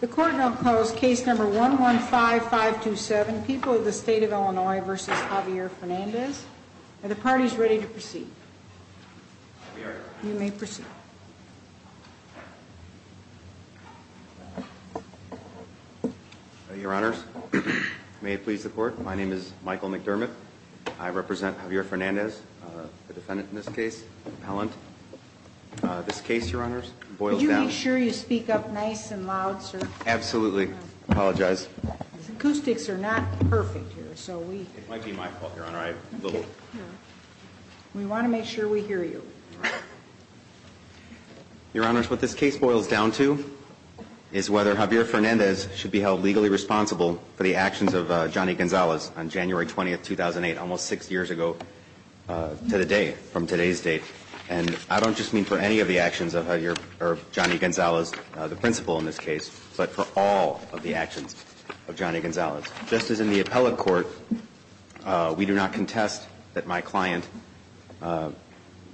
The court will oppose case number 115-527, People of the State of Illinois v. Javier Fernandez. Are the parties ready to proceed? We are. You may proceed. Your Honors, may it please the Court, my name is Michael McDermott. I represent Javier Fernandez, the defendant in this case, Pellant. This case, Your Honors, boils down to... Could you make sure you speak up nice and loud, sir? Absolutely. I apologize. The acoustics are not perfect here, so we... It might be my fault, Your Honor. I'm a little... We want to make sure we hear you. Your Honors, what this case boils down to is whether Javier Fernandez should be held legally responsible for the actions of Johnny Gonzalez on January 20, 2008, almost six years ago to the day, from today's date. And I don't just mean for any of the actions of Javier or Johnny Gonzalez, the principal in this case, but for all of the actions of Johnny Gonzalez. Just as in the appellate court, we do not contest that my client,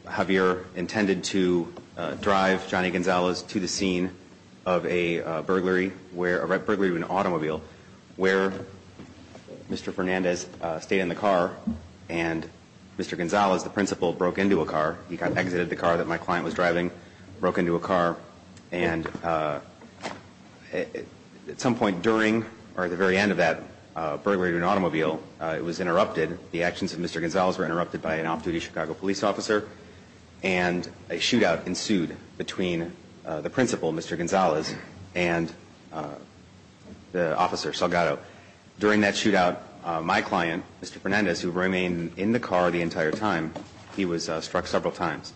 Javier, intended to drive Johnny Gonzalez to the scene of a burglary where... Mr. Gonzalez, the principal, broke into a car. He exited the car that my client was driving, broke into a car, and at some point during or at the very end of that burglary of an automobile, it was interrupted. The actions of Mr. Gonzalez were interrupted by an off-duty Chicago police officer, and a shootout ensued between the principal, Mr. Gonzalez, and the officer, Salgado. During that shootout, my client, Mr. Fernandez, who remained in the car the entire time, he was struck several times.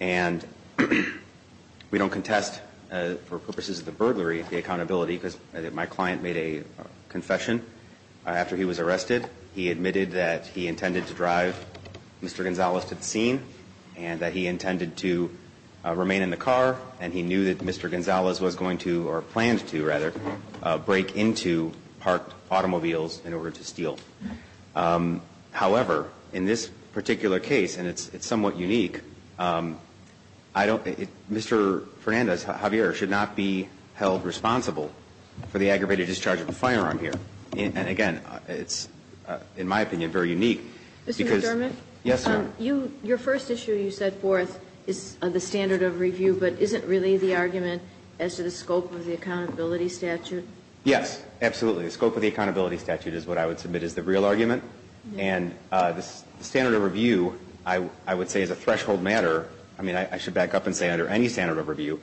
And we don't contest, for purposes of the burglary, the accountability because my client made a confession. After he was arrested, he admitted that he intended to drive Mr. Gonzalez to the scene and that he intended to remain in the car, and he knew that Mr. Gonzalez was going to, or planned to, rather, break into parked automobiles in order to steal. However, in this particular case, and it's somewhat unique, I don't think Mr. Fernandez, Javier, should not be held responsible for the aggravated discharge of a firearm here. And again, it's, in my opinion, very unique because... Mr. McDermott? Yes, ma'am. Your first issue you set forth is the standard of review, but isn't really the argument as to the scope of the accountability statute? Yes, absolutely. The scope of the accountability statute is what I would submit is the real argument. And the standard of review, I would say, is a threshold matter. I mean, I should back up and say under any standard of review,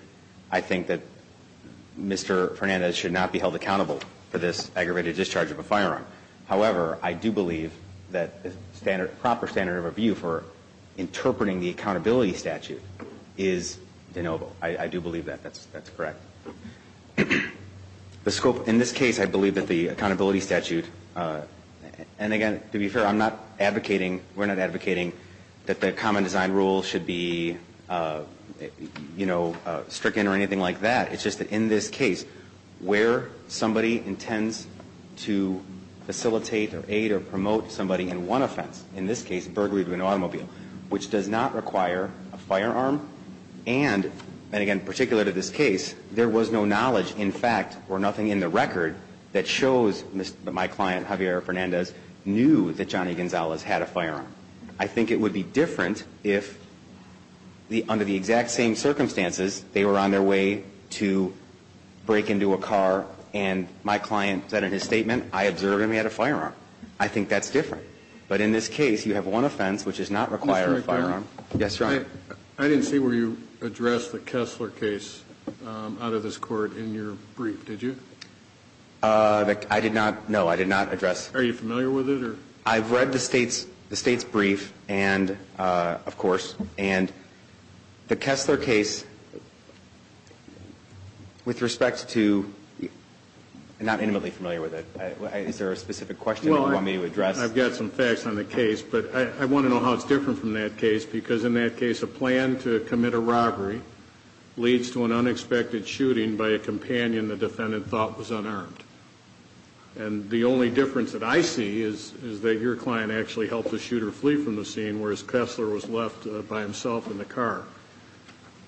I think that Mr. Fernandez should not be held accountable for this aggravated discharge of a firearm. However, I do believe that the proper standard of review for interpreting the accountability statute is de novo. I do believe that. That's correct. The scope, in this case, I believe that the accountability statute, and again, to be fair, I'm not advocating, we're not advocating that the common design rule should be, you know, stricken or anything like that. It's just that in this case, where somebody intends to facilitate or aid or promote somebody in one offense, in this case, burglary of an automobile, which does not require a firearm, and again, particular to this case, there was no knowledge, in fact, or nothing in the record, that shows that my client, Javier Fernandez, knew that Johnny Gonzalez had a firearm. I think it would be different if, under the exact same circumstances, they were on their way to break into a car, and my client said in his statement, I observed him, he had a firearm. I think that's different. But in this case, you have one offense, which does not require a firearm. Yes, Your Honor. I didn't see where you addressed the Kessler case out of this court in your brief, did you? I did not. No, I did not address. Are you familiar with it? I've read the State's brief and, of course, and the Kessler case, with respect to, I'm not intimately familiar with it. Is there a specific question that you want me to address? Well, I've got some facts on the case, but I want to know how it's different from that case, because in that case, a plan to commit a robbery leads to an unexpected shooting by a companion the defendant thought was unarmed. And the only difference that I see is that your client actually helped the shooter flee from the scene, whereas Kessler was left by himself in the car.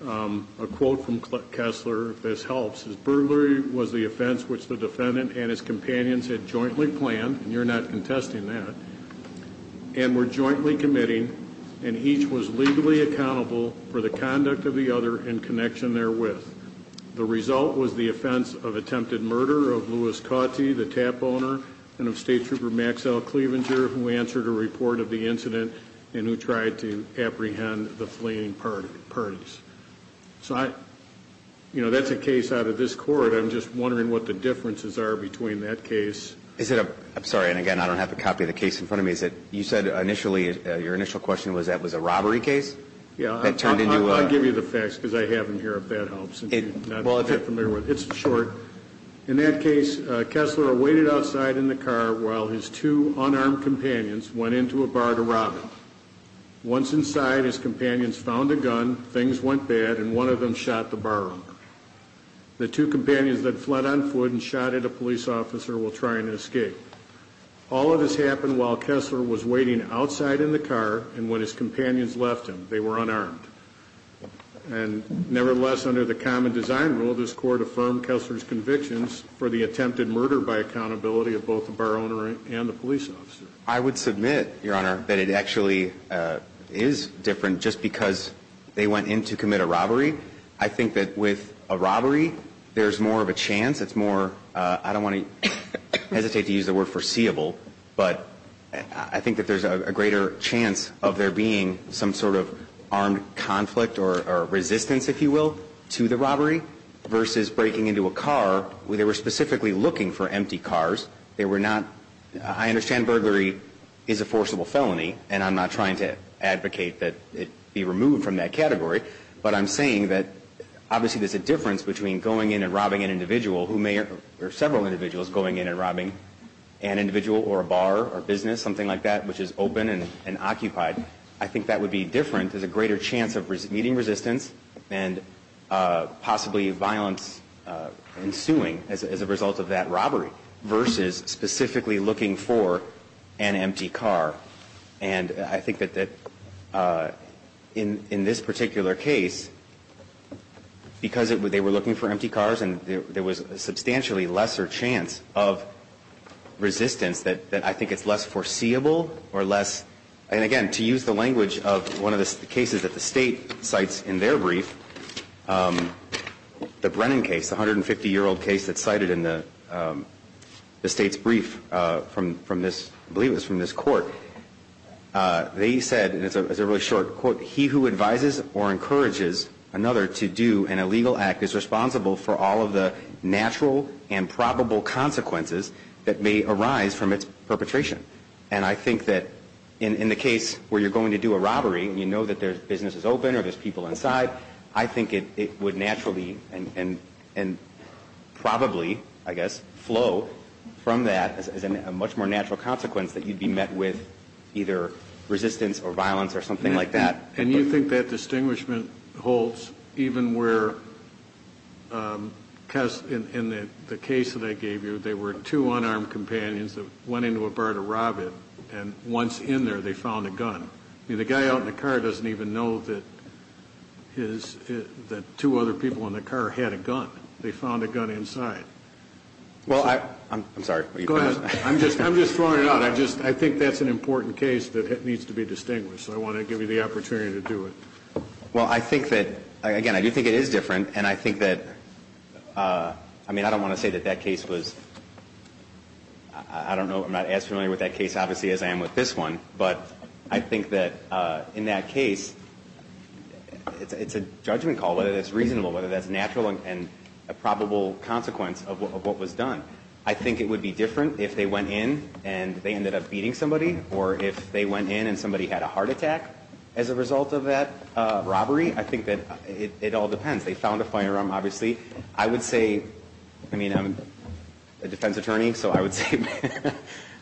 A quote from Kessler, if this helps, is burglary was the offense which the defendant and his companions had jointly planned, and you're not contesting that, and were jointly committing, and each was legally accountable for the conduct of the other in connection therewith. The result was the offense of attempted murder of Louis Cauty, the tap owner, and of State Trooper Max L. Clevenger, who answered a report of the incident and who tried to apprehend the fleeing parties. So I, you know, that's a case out of this court. I'm just wondering what the differences are between that case. Is it a, I'm sorry, and again, I don't have a copy of the case in front of me. Is it, you said initially, your initial question was that was a robbery case? Yeah. I'll give you the facts because I have them here, if that helps. It's short. In that case, Kessler waited outside in the car while his two unarmed companions went into a bar to rob it. Once inside, his companions found a gun, things went bad, and one of them shot the bar owner. The two companions then fled on foot and shot at a police officer while trying to escape. All of this happened while Kessler was waiting outside in the car, and when his companions left him, they were unarmed. And nevertheless, under the common design rule, this court affirmed Kessler's convictions for the attempted murder by accountability of both the bar owner and the police officer. I would submit, Your Honor, that it actually is different just because they went in to commit a robbery. I think that with a robbery, there's more of a chance. It's more, I don't want to hesitate to use the word foreseeable, but I think that there's a greater chance of there being some sort of armed conflict or resistance, if you will, to the robbery versus breaking into a car. They were specifically looking for empty cars. They were not, I understand burglary is a forcible felony, and I'm not trying to advocate that it be removed from that category, but I'm saying that obviously there's a difference between going in and robbing an individual or several individuals going in and robbing an individual or a bar or business, something like that, which is open and occupied. I think that would be different. There's a greater chance of meeting resistance and possibly violence ensuing as a result of that robbery versus specifically looking for an empty car. And I think that in this particular case, because they were looking for empty cars and there was a substantially lesser chance of resistance, that I think it's less foreseeable or less, and again, to use the language of one of the cases that the state cites in their brief, the Brennan case, the 150-year-old case that's cited in the state's brief from this, I believe it was from this court. They said, and it's a really short quote, he who advises or encourages another to do an illegal act is responsible for all of the natural and probable consequences that may arise from its perpetration. And I think that in the case where you're going to do a robbery and you know that the business is open or there's people inside, I think it would naturally and probably, I guess, flow from that as a much more natural consequence that you'd be met with either resistance or violence or something like that. And you think that distinguishment holds even where, in the case that I gave you, there were two unarmed companions that went into a bar to rob it, and once in there, they found a gun. I mean, the guy out in the car doesn't even know that two other people in the car had a gun. They found a gun inside. Well, I'm sorry. Go ahead. I'm just throwing it out. I think that's an important case that needs to be distinguished. I want to give you the opportunity to do it. Well, I think that, again, I do think it is different, and I think that, I mean, I don't want to say that that case was, I don't know. I'm not as familiar with that case, obviously, as I am with this one. But I think that in that case, it's a judgment call, whether that's reasonable, whether that's natural and a probable consequence of what was done. I think it would be different if they went in and they ended up beating somebody or if they went in and somebody had a heart attack as a result of that robbery. I think that it all depends. They found a firearm, obviously. I would say, I mean, I'm a defense attorney, so I would say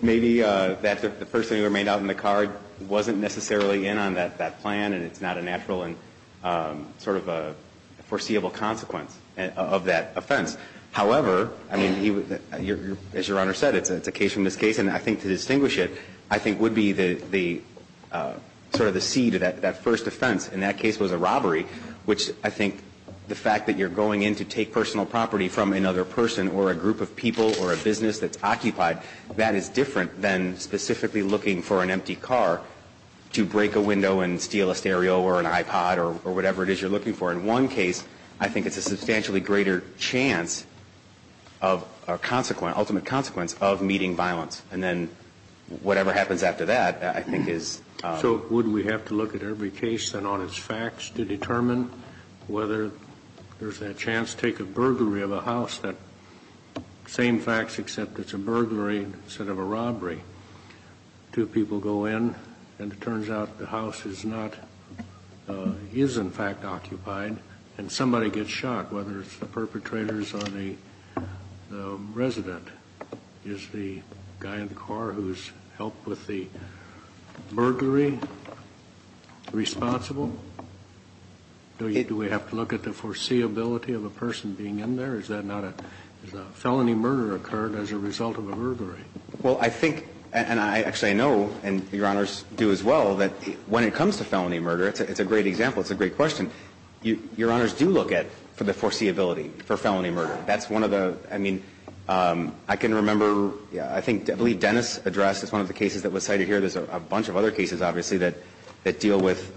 maybe that the person who remained out in the car wasn't necessarily in on that plan, and it's not a natural and sort of a foreseeable consequence of that offense. However, I mean, as Your Honor said, it's a case from this case. And I think to distinguish it, I think would be the sort of the seed of that first offense, and that case was a robbery, which I think the fact that you're going in to take personal property from another person or a group of people or a business that's occupied, that is different than specifically looking for an empty car to break a window and steal a stereo or an iPod or whatever it is you're looking for. In one case, I think it's a substantially greater chance of a consequence, an ultimate consequence, of meeting violence. And then whatever happens after that, I think is. So wouldn't we have to look at every case and all its facts to determine whether there's a chance to take a burglary of a house, that same facts, except it's a burglary instead of a robbery. Two people go in, and it turns out the house is not, is in fact occupied, and somebody gets shot, whether it's the perpetrators or the resident. Is the guy in the car who's helped with the burglary responsible? Do we have to look at the foreseeability of a person being in there? Is that not a felony murder occurred as a result of a burglary? Well, I think, and I actually know, and Your Honors do as well, that when it comes to felony murder, it's a great example. It's a great question. Your Honors do look at the foreseeability for felony murder. That's one of the, I mean, I can remember, I think, I believe Dennis addressed one of the cases that was cited here. There's a bunch of other cases, obviously, that deal with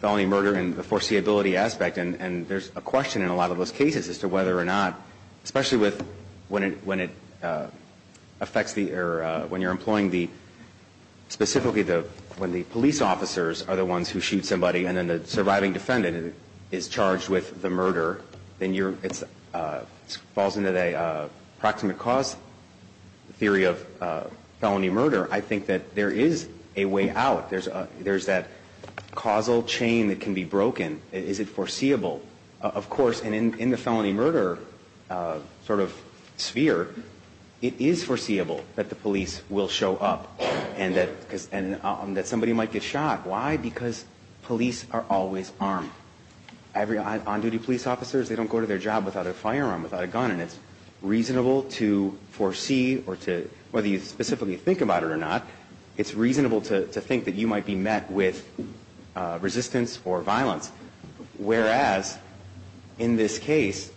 felony murder and the foreseeability aspect, and there's a question in a lot of those cases as to whether or not, especially with when it affects the, or when you're employing the, specifically when the police officers are the ones who shoot somebody and then the surviving defendant is charged with the murder, then you're, it falls into the approximate cause theory of felony murder. I think that there is a way out. There's that causal chain that can be broken. Is it foreseeable? Of course, and in the felony murder sort of sphere, it is foreseeable that the police will show up and that somebody might get shot. Why? Because police are always armed. Every on-duty police officer, they don't go to their job without a firearm, without a gun, and it's reasonable to foresee or to, whether you specifically think about it or not, it's reasonable to think that you might be met with resistance or violence. Whereas, in this case,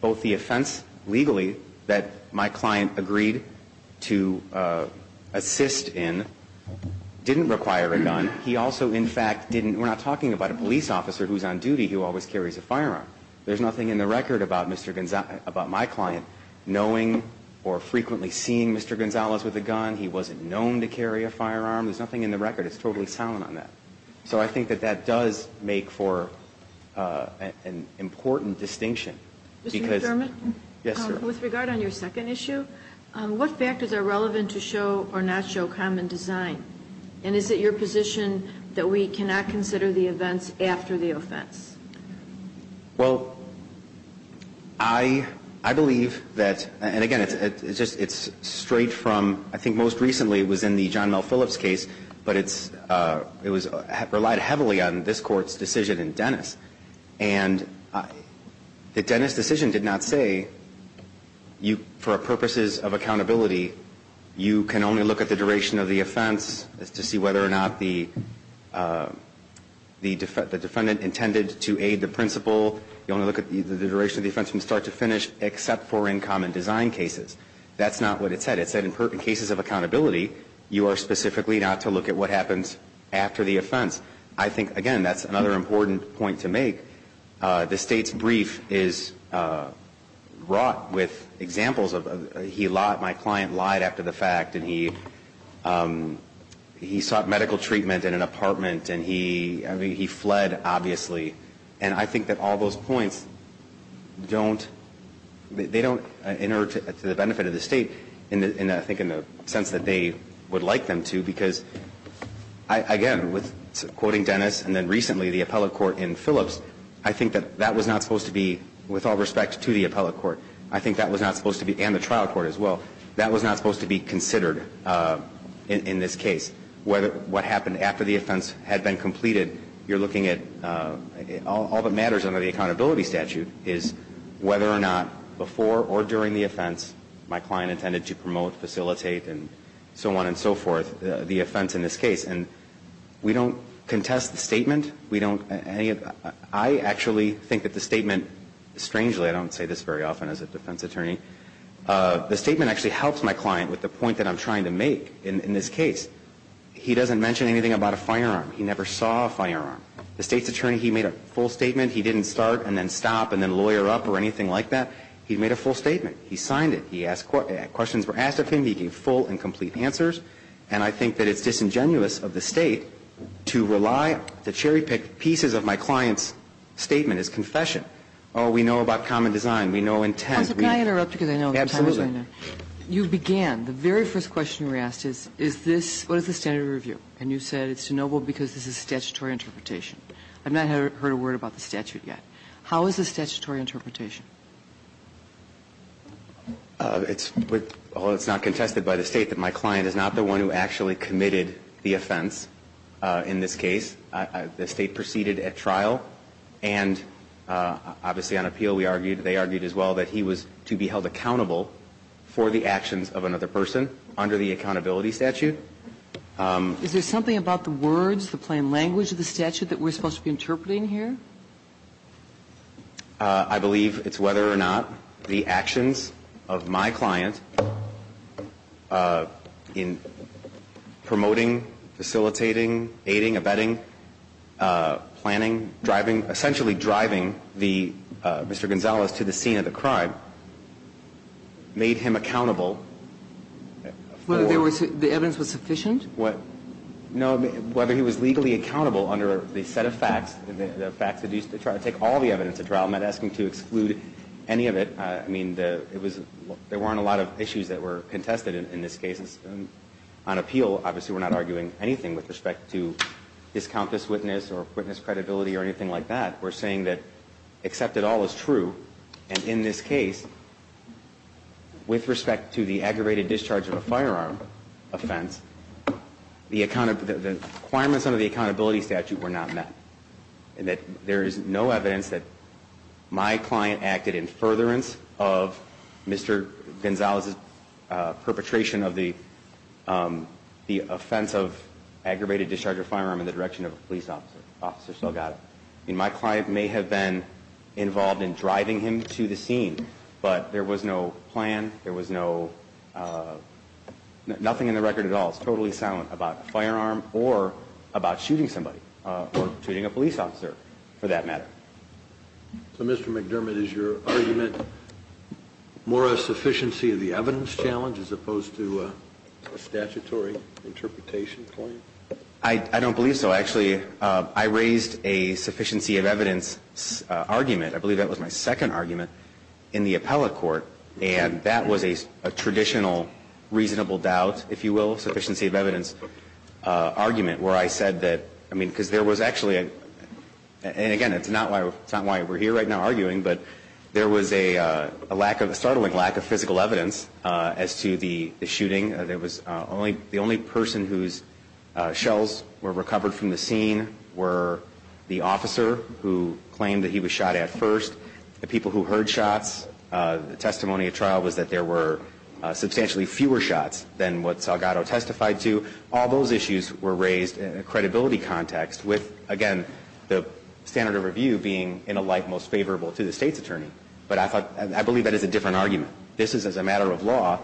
both the offense, legally, that my client agreed to assist in didn't require a gun. He also, in fact, didn't, we're not talking about a police officer who's on duty who always carries a firearm. There's nothing in the record about Mr. Gonzales, about my client knowing or frequently seeing Mr. Gonzales with a gun. He wasn't known to carry a firearm. There's nothing in the record. It's totally silent on that. So I think that that does make for an important distinction. Mr. McDermott? Yes, sir. With regard on your second issue, what factors are relevant to show or not show common design? And is it your position that we cannot consider the events after the offense? Well, I believe that, and again, it's straight from, I think most recently it was in the court's decision in Dennis. And the Dennis decision did not say you, for purposes of accountability, you can only look at the duration of the offense to see whether or not the defendant intended to aid the principal. You only look at the duration of the offense from start to finish, except for in common design cases. That's not what it said. It said in cases of accountability, you are specifically not to look at what happens after the offense. I think, again, that's another important point to make. The State's brief is wrought with examples of he lied, my client lied after the fact, and he sought medical treatment in an apartment, and he fled, obviously. And I think that all those points don't, they don't enter to the benefit of the State, I think in the sense that they would like them to, because, again, with quoting Dennis and then recently the appellate court in Phillips, I think that that was not supposed to be, with all respect to the appellate court, I think that was not supposed to be, and the trial court as well, that was not supposed to be considered in this case. What happened after the offense had been completed, you're looking at all that matters under the accountability statute is whether or not before or during the offense my client intended to promote, facilitate, and so on and so forth, the offense in this case. And we don't contest the statement. We don't, I actually think that the statement, strangely, I don't say this very often as a defense attorney, the statement actually helps my client with the point that I'm trying to make in this case. He doesn't mention anything about a firearm. He never saw a firearm. The State's attorney, he made a full statement. He didn't start and then stop and then lawyer up or anything like that. He made a full statement. He signed it. He asked, questions were asked of him. He gave full and complete answers. And I think that it's disingenuous of the State to rely, to cherry pick pieces of my client's statement as confession. Oh, we know about common design. We know intent. We know. Kagan. Kagan. Kagan. Kagan. Kagan. Kagan. Kagan. Kagan. Kagan. Kagan. Kagan. Kagan. Kagan. Kagan. Kagan. Kagan. Kagan. Kagan. Kagan. It's not contested by the State that my client is not the one who actually committed the offense in this case. The State proceeded at trial and obviously on appeal we argued, they argued as well, that he was to be held accountable for the actions of another person under the accountability statute. Is there something about the words, the plain language of the statute that we're supposed to be interpreting here? I believe it's whether or not the actions of my client in promoting, facilitating, aiding, abetting, planning, driving, essentially driving Mr. Gonzales to the scene of the crime made him accountable. Whether the evidence was sufficient? No, whether he was legally accountable under the set of facts, the facts that used to try to take all the evidence at trial, I'm not asking to exclude any of it. I mean, there weren't a lot of issues that were contested in this case. On appeal, obviously we're not arguing anything with respect to discount this witness or witness credibility or anything like that. We're saying that except it all is true and in this case, with respect to the requirements under the accountability statute were not met. And that there is no evidence that my client acted in furtherance of Mr. Gonzales' perpetration of the offense of aggravated discharge of firearm in the direction of a police officer. Officer still got it. I mean, my client may have been involved in driving him to the scene, but there was no plan, there was no, nothing in the record at all. It's totally silent about the firearm or about shooting somebody or shooting a police officer for that matter. So Mr. McDermott, is your argument more a sufficiency of the evidence challenge as opposed to a statutory interpretation claim? I don't believe so. Actually, I raised a sufficiency of evidence argument. I believe that was my second argument in the appellate court, and that was a traditional reasonable doubt, if you will, sufficiency of evidence argument where I said that, I mean, because there was actually, and again, it's not why we're here right now arguing, but there was a lack of, a startling lack of physical evidence as to the shooting. There was only, the only person whose shells were recovered from the scene were the officer who claimed that he was shot at first, the people who heard shots. The testimony at trial was that there were substantially fewer shots than what Salgado testified to. All those issues were raised in a credibility context with, again, the standard of review being in a light most favorable to the State's attorney. But I thought, I believe that is a different argument. This is as a matter of law,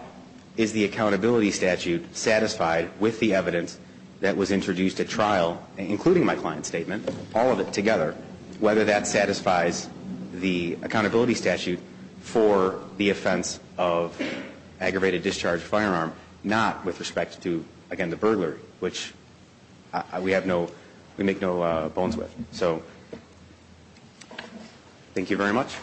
is the accountability statute satisfied with the evidence that was introduced at trial, including my client's statement, all of it together, whether that satisfies the accountability statute for the offense of aggravated discharge firearm, not with respect to, again, the burglary, which we have no, we make no bones with. So, thank you very much.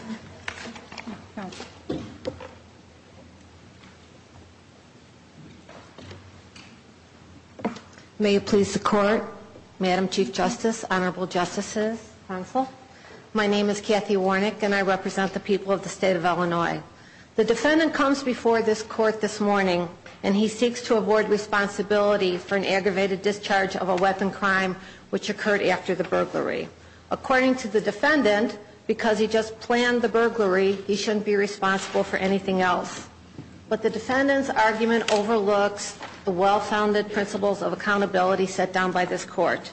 May it please the Court, Madam Chief Justice, Honorable Justices, Counsel, my name is Kathy Warnick and I represent the people of the State of Illinois. The defendant comes before this Court this morning and he seeks to award responsibility for an aggravated discharge of a weapon crime which occurred after the burglary. According to the defendant, because he just planned the burglary, he shouldn't be responsible for anything else. But the defendant's argument overlooks the well-founded principles of accountability set down by this Court.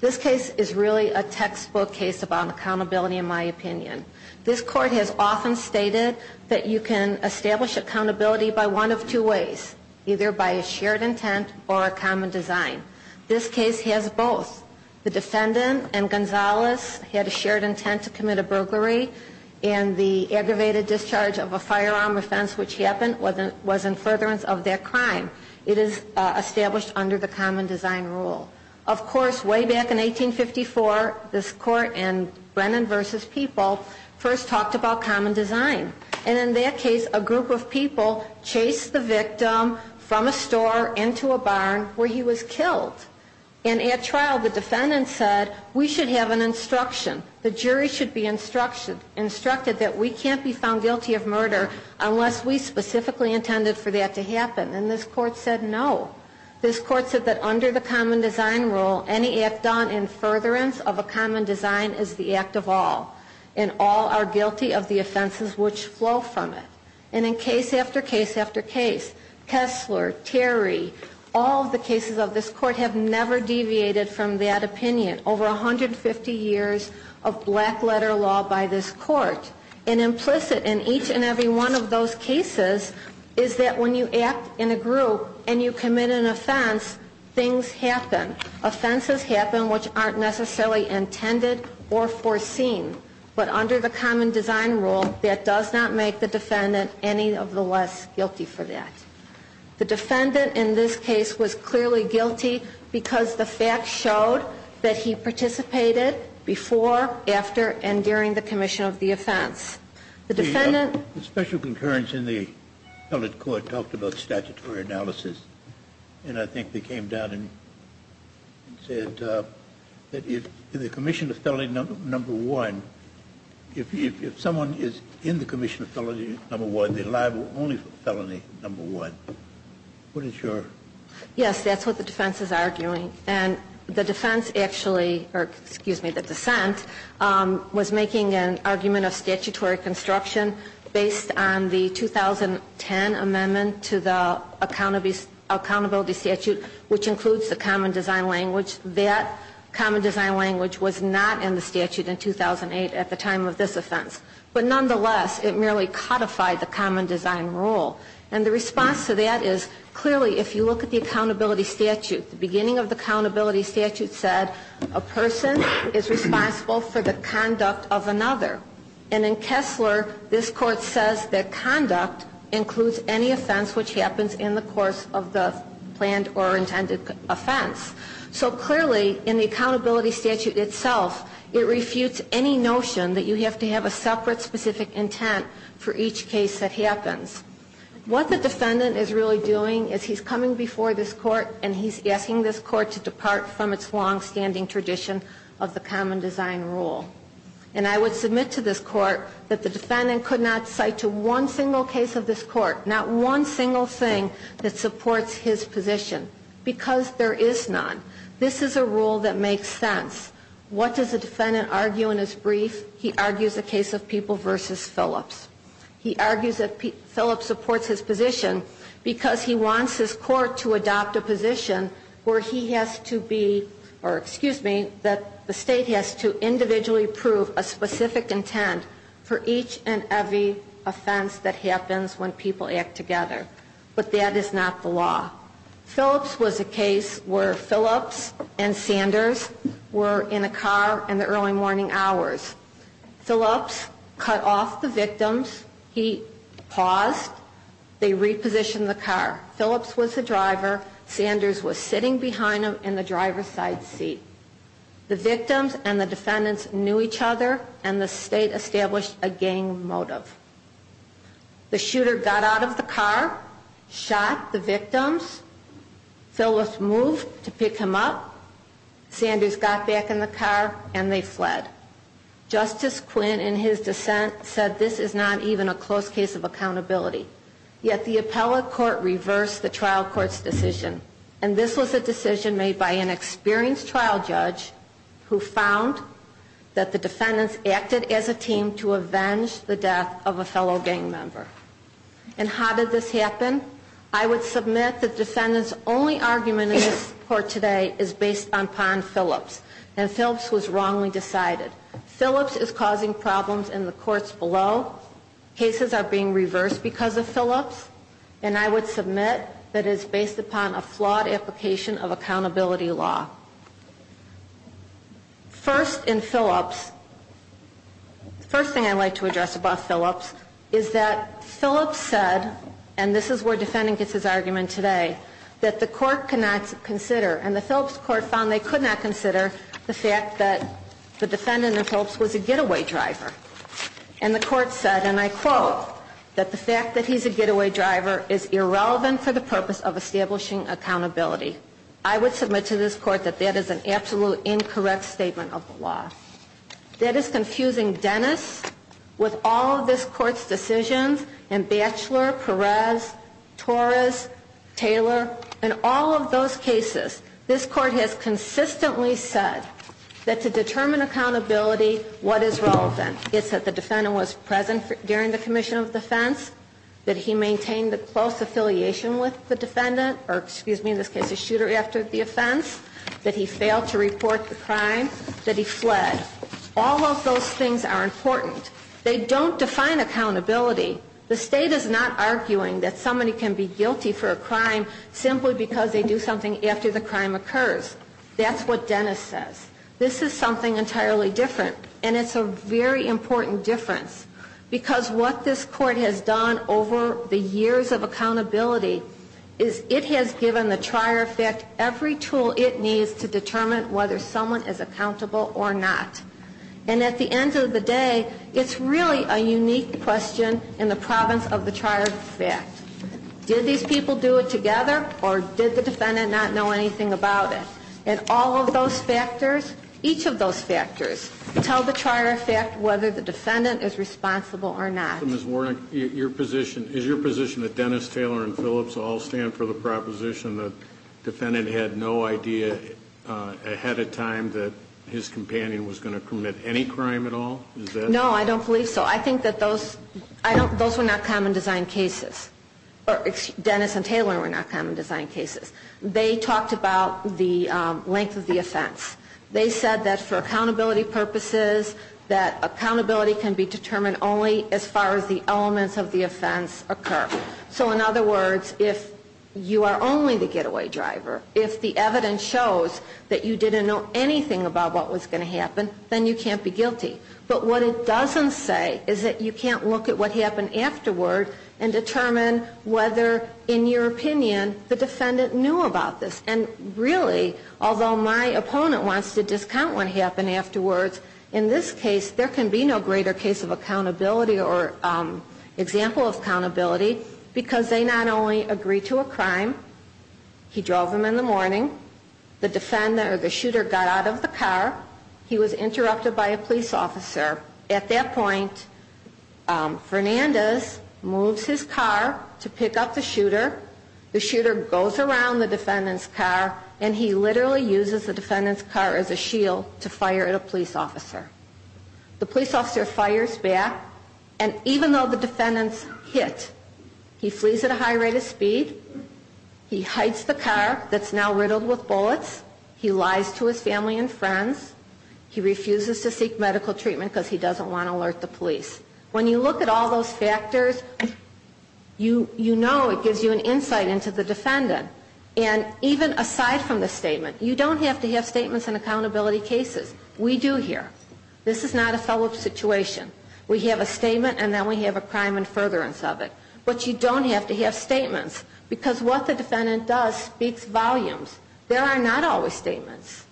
This case is really a textbook case about accountability, in my opinion. This Court has often stated that you can establish accountability by one of two ways, either by a shared intent or a common design. This case has both. The defendant and Gonzalez had a shared intent to commit a burglary and the aggravated discharge of a firearm offense which happened was in furtherance of that crime. It is established under the common design rule. Of course, way back in 1854, this Court in Brennan v. People first talked about common design. And in that case, a group of people chased the victim from a store into a barn where he was killed. And at trial, the defendant said, we should have an instruction. The jury should be instructed that we can't be found guilty of murder unless we specifically intended for that to happen. And this Court said no. This Court said that under the common design rule, any act done in furtherance of a common design is the act of all. And all are guilty of the offenses which flow from it. And in case after case after case, Kessler, Terry, all of the cases of this Court have never deviated from that opinion. Over 150 years of black letter law by this Court. And implicit in each and every one of those cases is that when you act in a group and you commit an offense, things happen. Offenses happen which aren't necessarily intended or foreseen. But under the common design rule, that does not make the defendant any of the less guilty for that. The defendant in this case was clearly guilty because the facts showed that he participated before, after, and during the commission of the offense. The defendant... The special concurrence in the felon court talked about statutory analysis. And I think they came down and said that in the commission of felony number one, if someone is in the commission of felony number one, they're liable only for felony number one. What is your... Yes, that's what the defense is arguing. And the defense actually, or excuse me, the dissent, was making an argument of statutory construction based on the 2010 amendment to the accountability statute, which includes the common design language. That common design language was not in the statute in 2008 at the time of this offense. But nonetheless, it merely codified the common design rule. And the response to that is, clearly, if you look at the accountability statute, the beginning of the accountability statute said a person is responsible for the conduct of another. And in Kessler, this Court says that conduct includes any offense which happens in the course of the planned or intended offense. So clearly, in the accountability statute itself, it refutes any notion that you have to have a separate specific intent for each case that happens. What the defendant is really doing is he's coming before this Court and he's asking this Court to depart from its longstanding tradition of the common design rule. And I would submit to this Court that the defendant could not cite to one single case of this Court, not one single thing that supports his position, because there is none. This is a rule that makes sense. What does the defendant argue in his brief? He argues a case of People v. Phillips. He argues that Phillips supports his position because he wants his Court to adopt a position where he has to be, or excuse me, that the State has to individually prove a specific intent for each and every offense that happens when people act together. But that is not the law. Phillips was a case where Phillips and Sanders were in a car in the early morning hours. Phillips cut off the victims. He paused. They repositioned the car. Phillips was the driver. Sanders was sitting behind him in the driver's side seat. The victims and the defendants knew each other, and the State established a gang motive. The shooter got out of the car, shot the victims. Phillips moved to pick him up. Sanders got back in the car, and they fled. Justice Quinn, in his dissent, said this is not even a close case of accountability. Yet the appellate court reversed the trial court's decision, and this was a decision made by an experienced trial judge who found that the defendants acted as a team to avenge the death of a fellow gang member. And how did this happen? I would submit the defendant's only argument in this court today is based upon Phillips, and Phillips was wrongly decided. Phillips is causing problems in the courts below. Cases are being reversed because of Phillips. And I would submit that it is based upon a flawed application of accountability law. First in Phillips, the first thing I'd like to address about Phillips is that Phillips said, and this is where defendant gets his argument today, that the court cannot consider, and the Phillips court found they could not consider the fact that the defendant in Phillips was a getaway driver. And the court said, and I quote, that the fact that he's a getaway driver is irrelevant for the purpose of establishing accountability. I would submit to this court that that is an absolute incorrect statement of the law. That is confusing Dennis with all of this court's decisions and Batchelor, Perez, Torres, Taylor, and all of those cases. This court has consistently said that to determine accountability, what is relevant is that the defendant was present during the commission of defense, that he failed to report the crime, that he fled. All of those things are important. They don't define accountability. The state is not arguing that somebody can be guilty for a crime simply because they do something after the crime occurs. That's what Dennis says. This is something entirely different. And it's a very important difference. Because what this court has done over the years of accountability is it has given the trier of fact every tool it needs to determine whether someone is accountable or not. And at the end of the day, it's really a unique question in the province of the trier of fact. Did these people do it together or did the defendant not know anything about it? And all of those factors, each of those factors, tell the trier of fact whether the defendant is responsible or not. Is your position that Dennis, Taylor, and Phillips all stand for the proposition that the defendant had no idea ahead of time that his companion was going to commit any crime at all? No, I don't believe so. I think that those were not common design cases. Dennis and Taylor were not common design cases. They talked about the length of the offense. They said that for accountability purposes, that accountability can be determined only as far as the elements of the offense occur. So in other words, if you are only the getaway driver, if the evidence shows that you didn't know anything about what was going to happen, then you can't be guilty. But what it doesn't say is that you can't look at what happened afterward and determine whether, in your opinion, the defendant knew about this. And really, although my opponent wants to discount what happened afterwards, in this case, there can be no greater case of accountability or example of accountability because they not only agreed to a crime, he drove him in the morning, the shooter got out of the car, he was interrupted by a police officer. At that point, Fernandez moves his car to pick up the shooter. The shooter goes around the defendant's car, and he literally uses the defendant's car as a shield to fire at a police officer. The police officer fires back, and even though the defendant's hit, he flees at a high rate of speed. He hides the car that's now riddled with bullets. He lies to his family and friends. He refuses to seek medical treatment because he doesn't want to alert the police. When you look at all those factors, you know it gives you an insight into the defendant. And even aside from the statement, you don't have to have statements in accountability cases. We do here. This is not a fell-up situation. We have a statement, and then we have a crime in furtherance of it. But you don't have to have statements because what the defendant does speaks volumes. There are not always statements.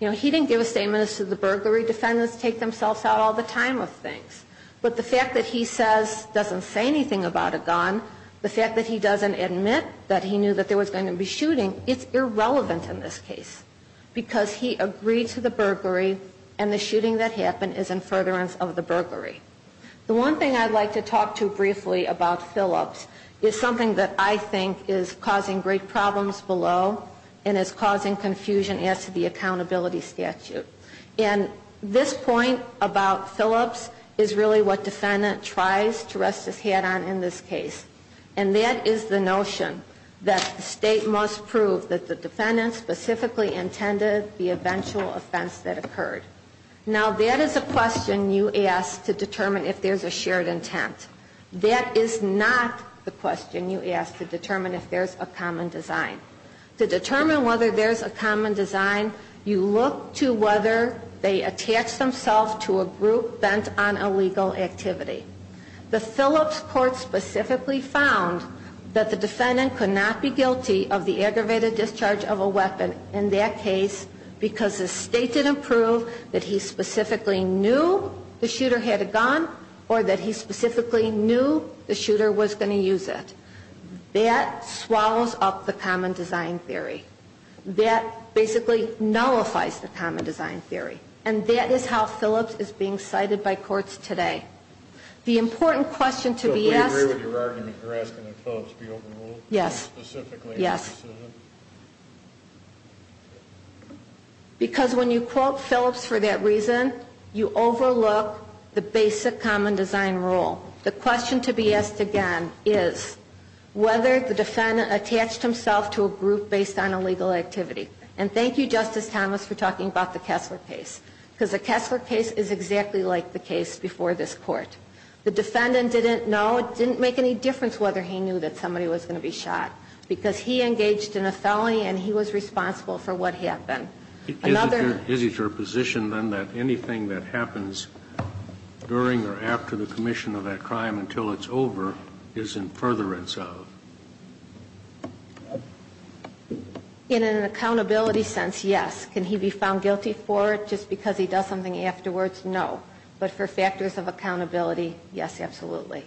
You know, he didn't give a statement as to the burglary. Defendants take themselves out all the time of things. But the fact that he says he doesn't say anything about a gun, the fact that he doesn't admit that he knew that there was going to be shooting, it's irrelevant in this case. Because he agreed to the burglary, and the shooting that happened is in furtherance of the burglary. The one thing I'd like to talk to briefly about Phillips is something that I think is causing great problems below and is causing confusion as to the accountability statute. And this point about Phillips is really what defendant tries to rest his head on in this case. And that is the notion that the state must prove that the defendant specifically intended the eventual offense that occurred. Now, that is a question you ask to determine if there's a shared intent. That is not the question you ask to determine if there's a common design. To determine whether there's a common design, you look to whether they attach themselves to a group bent on illegal activity. The Phillips court specifically found that the defendant could not be guilty of the aggravated discharge of a weapon in that case because the state didn't prove that he specifically knew the shooter had a gun or that he specifically knew the shooter was going to use it. That swallows up the common design theory. That basically nullifies the common design theory. And that is how Phillips is being cited by courts today. The important question to be asked. So we agree with your argument you're asking that Phillips be overruled? Yes. Specifically? Yes. Because when you quote Phillips for that reason, you overlook the basic common design rule. The question to be asked again is whether the defendant attached himself to a group based on illegal activity. And thank you, Justice Thomas, for talking about the Kessler case. Because the Kessler case is exactly like the case before this court. The defendant didn't know, didn't make any difference whether he knew that somebody was going to be shot. Because he engaged in a felony and he was responsible for what happened. Is it your position then that anything that happens during or after the commission of that crime until it's over is in furtherance of? In an accountability sense, yes. Can he be found guilty for it just because he does something afterwards? No. But for factors of accountability, yes, absolutely.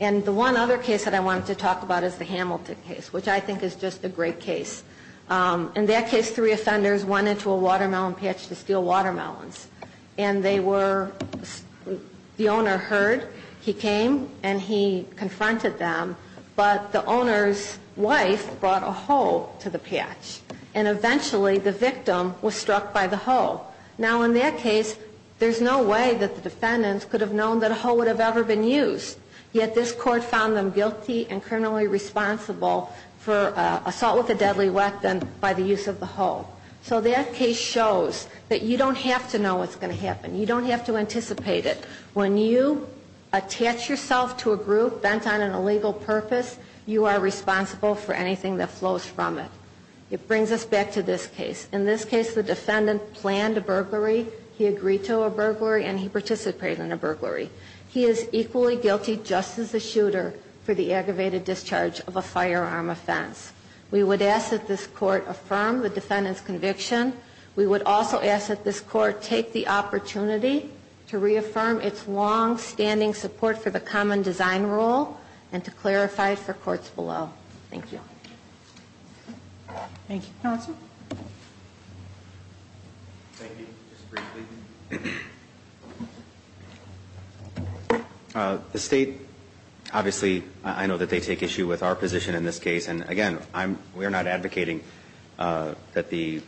And the one other case that I wanted to talk about is the Hamilton case, which I think is just a great case. In that case, three offenders went into a watermelon patch to steal watermelons. And they were the owner heard. He came and he confronted them. But the owner's wife brought a hoe to the patch. And eventually the victim was struck by the hoe. Now, in that case, there's no way that the defendants could have known that a hoe would have ever been used. Yet this court found them guilty and criminally responsible for assault with a deadly weapon by the use of the hoe. So that case shows that you don't have to know what's going to happen. You don't have to anticipate it. When you attach yourself to a group bent on an illegal purpose, you are responsible for anything that flows from it. It brings us back to this case. In this case, the defendant planned a burglary. He agreed to a burglary. And he participated in a burglary. He is equally guilty, just as the shooter, for the aggravated discharge of a firearm offense. We would ask that this court affirm the defendant's conviction. We would also ask that this court take the opportunity to reaffirm its longstanding support for the common design rule and to clarify it for courts below. Thank you. Thank you. Counsel? Thank you. Just briefly. The state, obviously, I know that they take issue with our position in this case. And, again, we are not advocating that the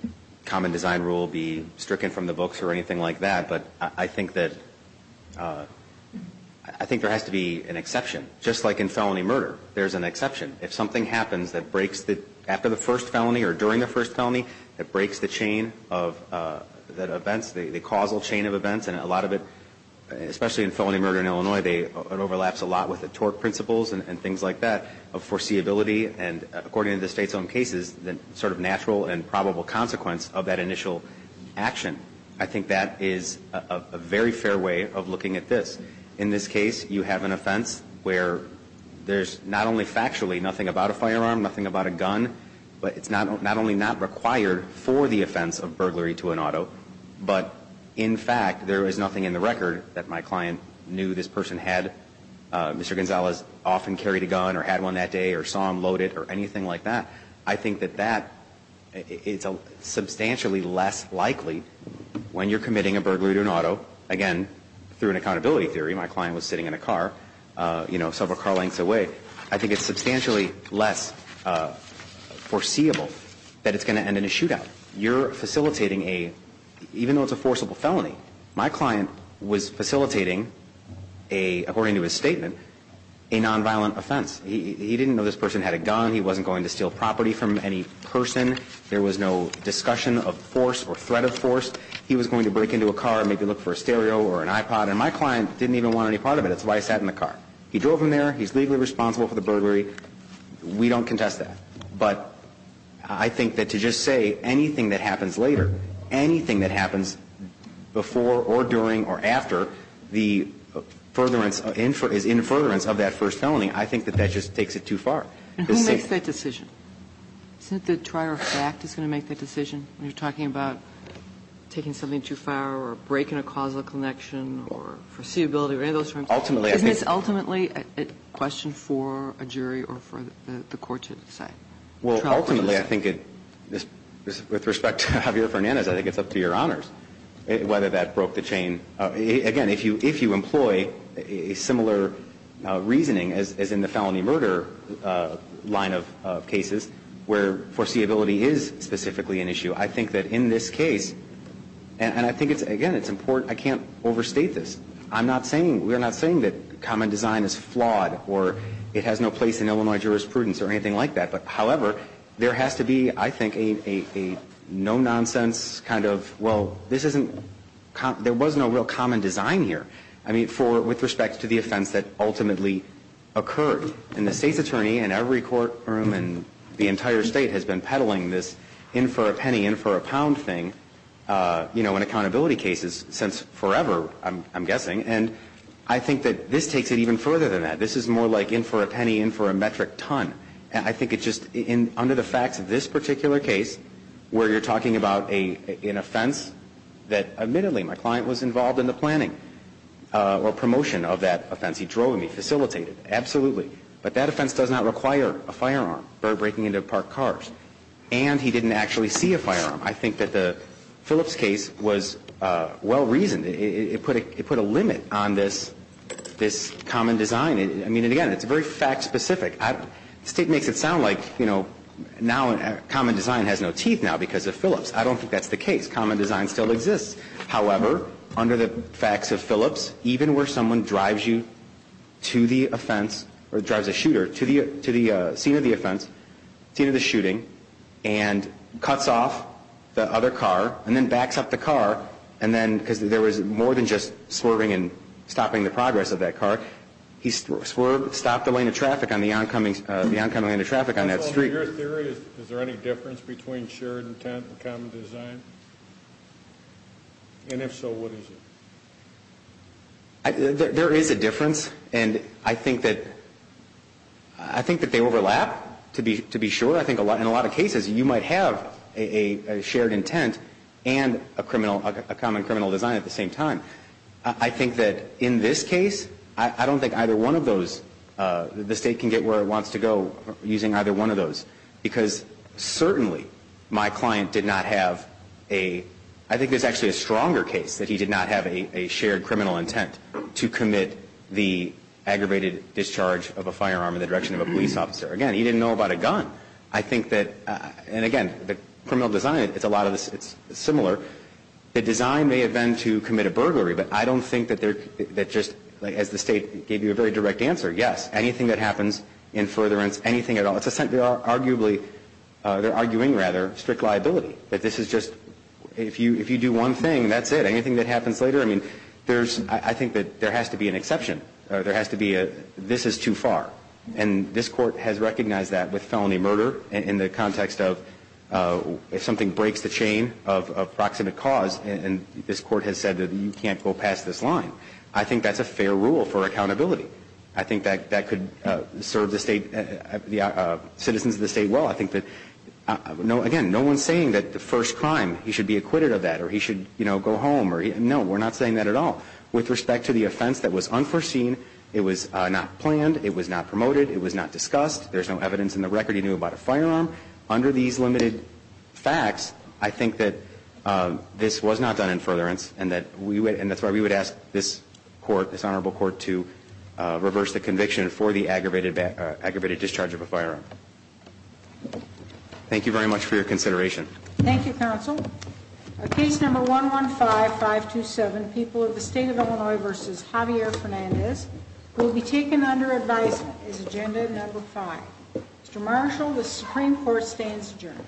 common design rule be stricken from the books or anything like that. But I think that there has to be an exception. Just like in felony murder, there's an exception. If something happens that breaks after the first felony or during the first felony, it breaks the chain of events, the causal chain of events. And a lot of it, especially in felony murder in Illinois, it overlaps a lot with the tort principles and things like that of foreseeability. And according to the state's own cases, the sort of natural and probable consequence of that initial action. I think that is a very fair way of looking at this. In this case, you have an offense where there's not only factually nothing about a firearm, nothing about a gun, but it's not only not required for the offense of burglary to an auto, but in fact, there is nothing in the record that my client knew this person had. Mr. Gonzalez often carried a gun or had one that day or saw him loaded or anything like that. I think that that is substantially less likely when you're committing a burglary to an auto. Again, through an accountability theory, my client was sitting in a car, you know, several car lengths away. I think it's substantially less foreseeable that it's going to end in a shootout. You're facilitating a, even though it's a forcible felony, my client was facilitating a, according to his statement, a nonviolent offense. He didn't know this person had a gun. He wasn't going to steal property from any person. There was no discussion of force or threat of force. He was going to break into a car and maybe look for a stereo or an iPod. And my client didn't even want any part of it. That's why he sat in the car. He drove him there. He's legally responsible for the burglary. We don't contest that. But I think that to just say anything that happens later, anything that happens before or during or after the furtherance, the infuriance of that first felony, I think that that just takes it too far. And who makes that decision? Isn't it the trier of fact that's going to make that decision when you're talking about taking something too far or breaking a causal connection or foreseeability or any of those terms? Ultimately, I think. Isn't this ultimately a question for a jury or for the court to decide? Well, ultimately, I think it, with respect to Javier Fernandez, I think it's up to Your Honors whether that broke the chain. Again, if you employ a similar reasoning as in the felony murder line of cases, where foreseeability is specifically an issue, I think that in this case, and I think it's, again, it's important. I can't overstate this. I'm not saying, we're not saying that common design is flawed or it has no place in Illinois jurisprudence or anything like that. But, however, there has to be, I think, a no-nonsense kind of, well, this isn't, there wasn't a real common design here. I mean, with respect to the offense that ultimately occurred. And the State's attorney in every courtroom in the entire State has been peddling this in for a penny, in for a pound thing, you know, in accountability cases since forever, I'm guessing. And I think that this takes it even further than that. This is more like in for a penny, in for a metric ton. And I think it's just, under the facts of this particular case, where you're talking about an offense that, admittedly, my client was involved in the planning or promotion of that offense. He drove me, facilitated. Absolutely. But that offense does not require a firearm, breaking into parked cars. And he didn't actually see a firearm. I think that the Phillips case was well-reasoned. It put a limit on this common design. I mean, again, it's very fact-specific. The State makes it sound like, you know, now common design has no teeth now because of Phillips. I don't think that's the case. Common design still exists. However, under the facts of Phillips, even where someone drives you to the offense, or drives a shooter to the scene of the offense, scene of the shooting, and cuts off the other car, and then backs up the car, and then, because there was more than just swerving and stopping the progress of that car, he stopped the lane of traffic on the oncoming lane of traffic on that street. In your theory, is there any difference between shared intent and common design? And if so, what is it? There is a difference. And I think that they overlap, to be sure. I think in a lot of cases, you might have a shared intent and a common criminal design at the same time. I think that in this case, I don't think either one of those, the State can get where it wants to go using either one of those. Because certainly, my client did not have a, I think there's actually a stronger case that he did not have a shared criminal intent to commit the aggravated discharge of a firearm in the direction of a police officer. Again, he didn't know about a gun. I think that, and again, the criminal design, it's a lot of, it's similar. The design may have been to commit a burglary, but I don't think that there, that just, as the State gave you a very direct answer, yes. Anything that happens in furtherance, anything at all, it's arguably, they're arguing, rather, strict liability. That this is just, if you do one thing, that's it. Anything that happens later, I mean, there's, I think that there has to be an exception. There has to be a, this is too far. And this Court has recognized that with felony murder in the context of, if something breaks the chain of proximate cause, and this Court has said that you can't go past this line, I think that's a fair rule for accountability. I think that that could serve the State, the citizens of the State well. I think that, again, no one's saying that the first crime, he should be acquitted of that, or he should, you know, go home. No, we're not saying that at all. With respect to the offense that was unforeseen, it was not planned, it was not promoted, it was not discussed. There's no evidence in the record he knew about a firearm. Under these limited facts, I think that this was not done in furtherance, and that we, and that's why we would ask this Court, this Honorable Court, to reverse the conviction for the aggravated discharge of a firearm. Thank you very much for your consideration. Thank you, Counsel. Case number 115-527, People of the State of Illinois v. Javier Fernandez, will be taken under advice as agenda number five. Mr. Marshall, the Supreme Court stands adjourned. Thank you.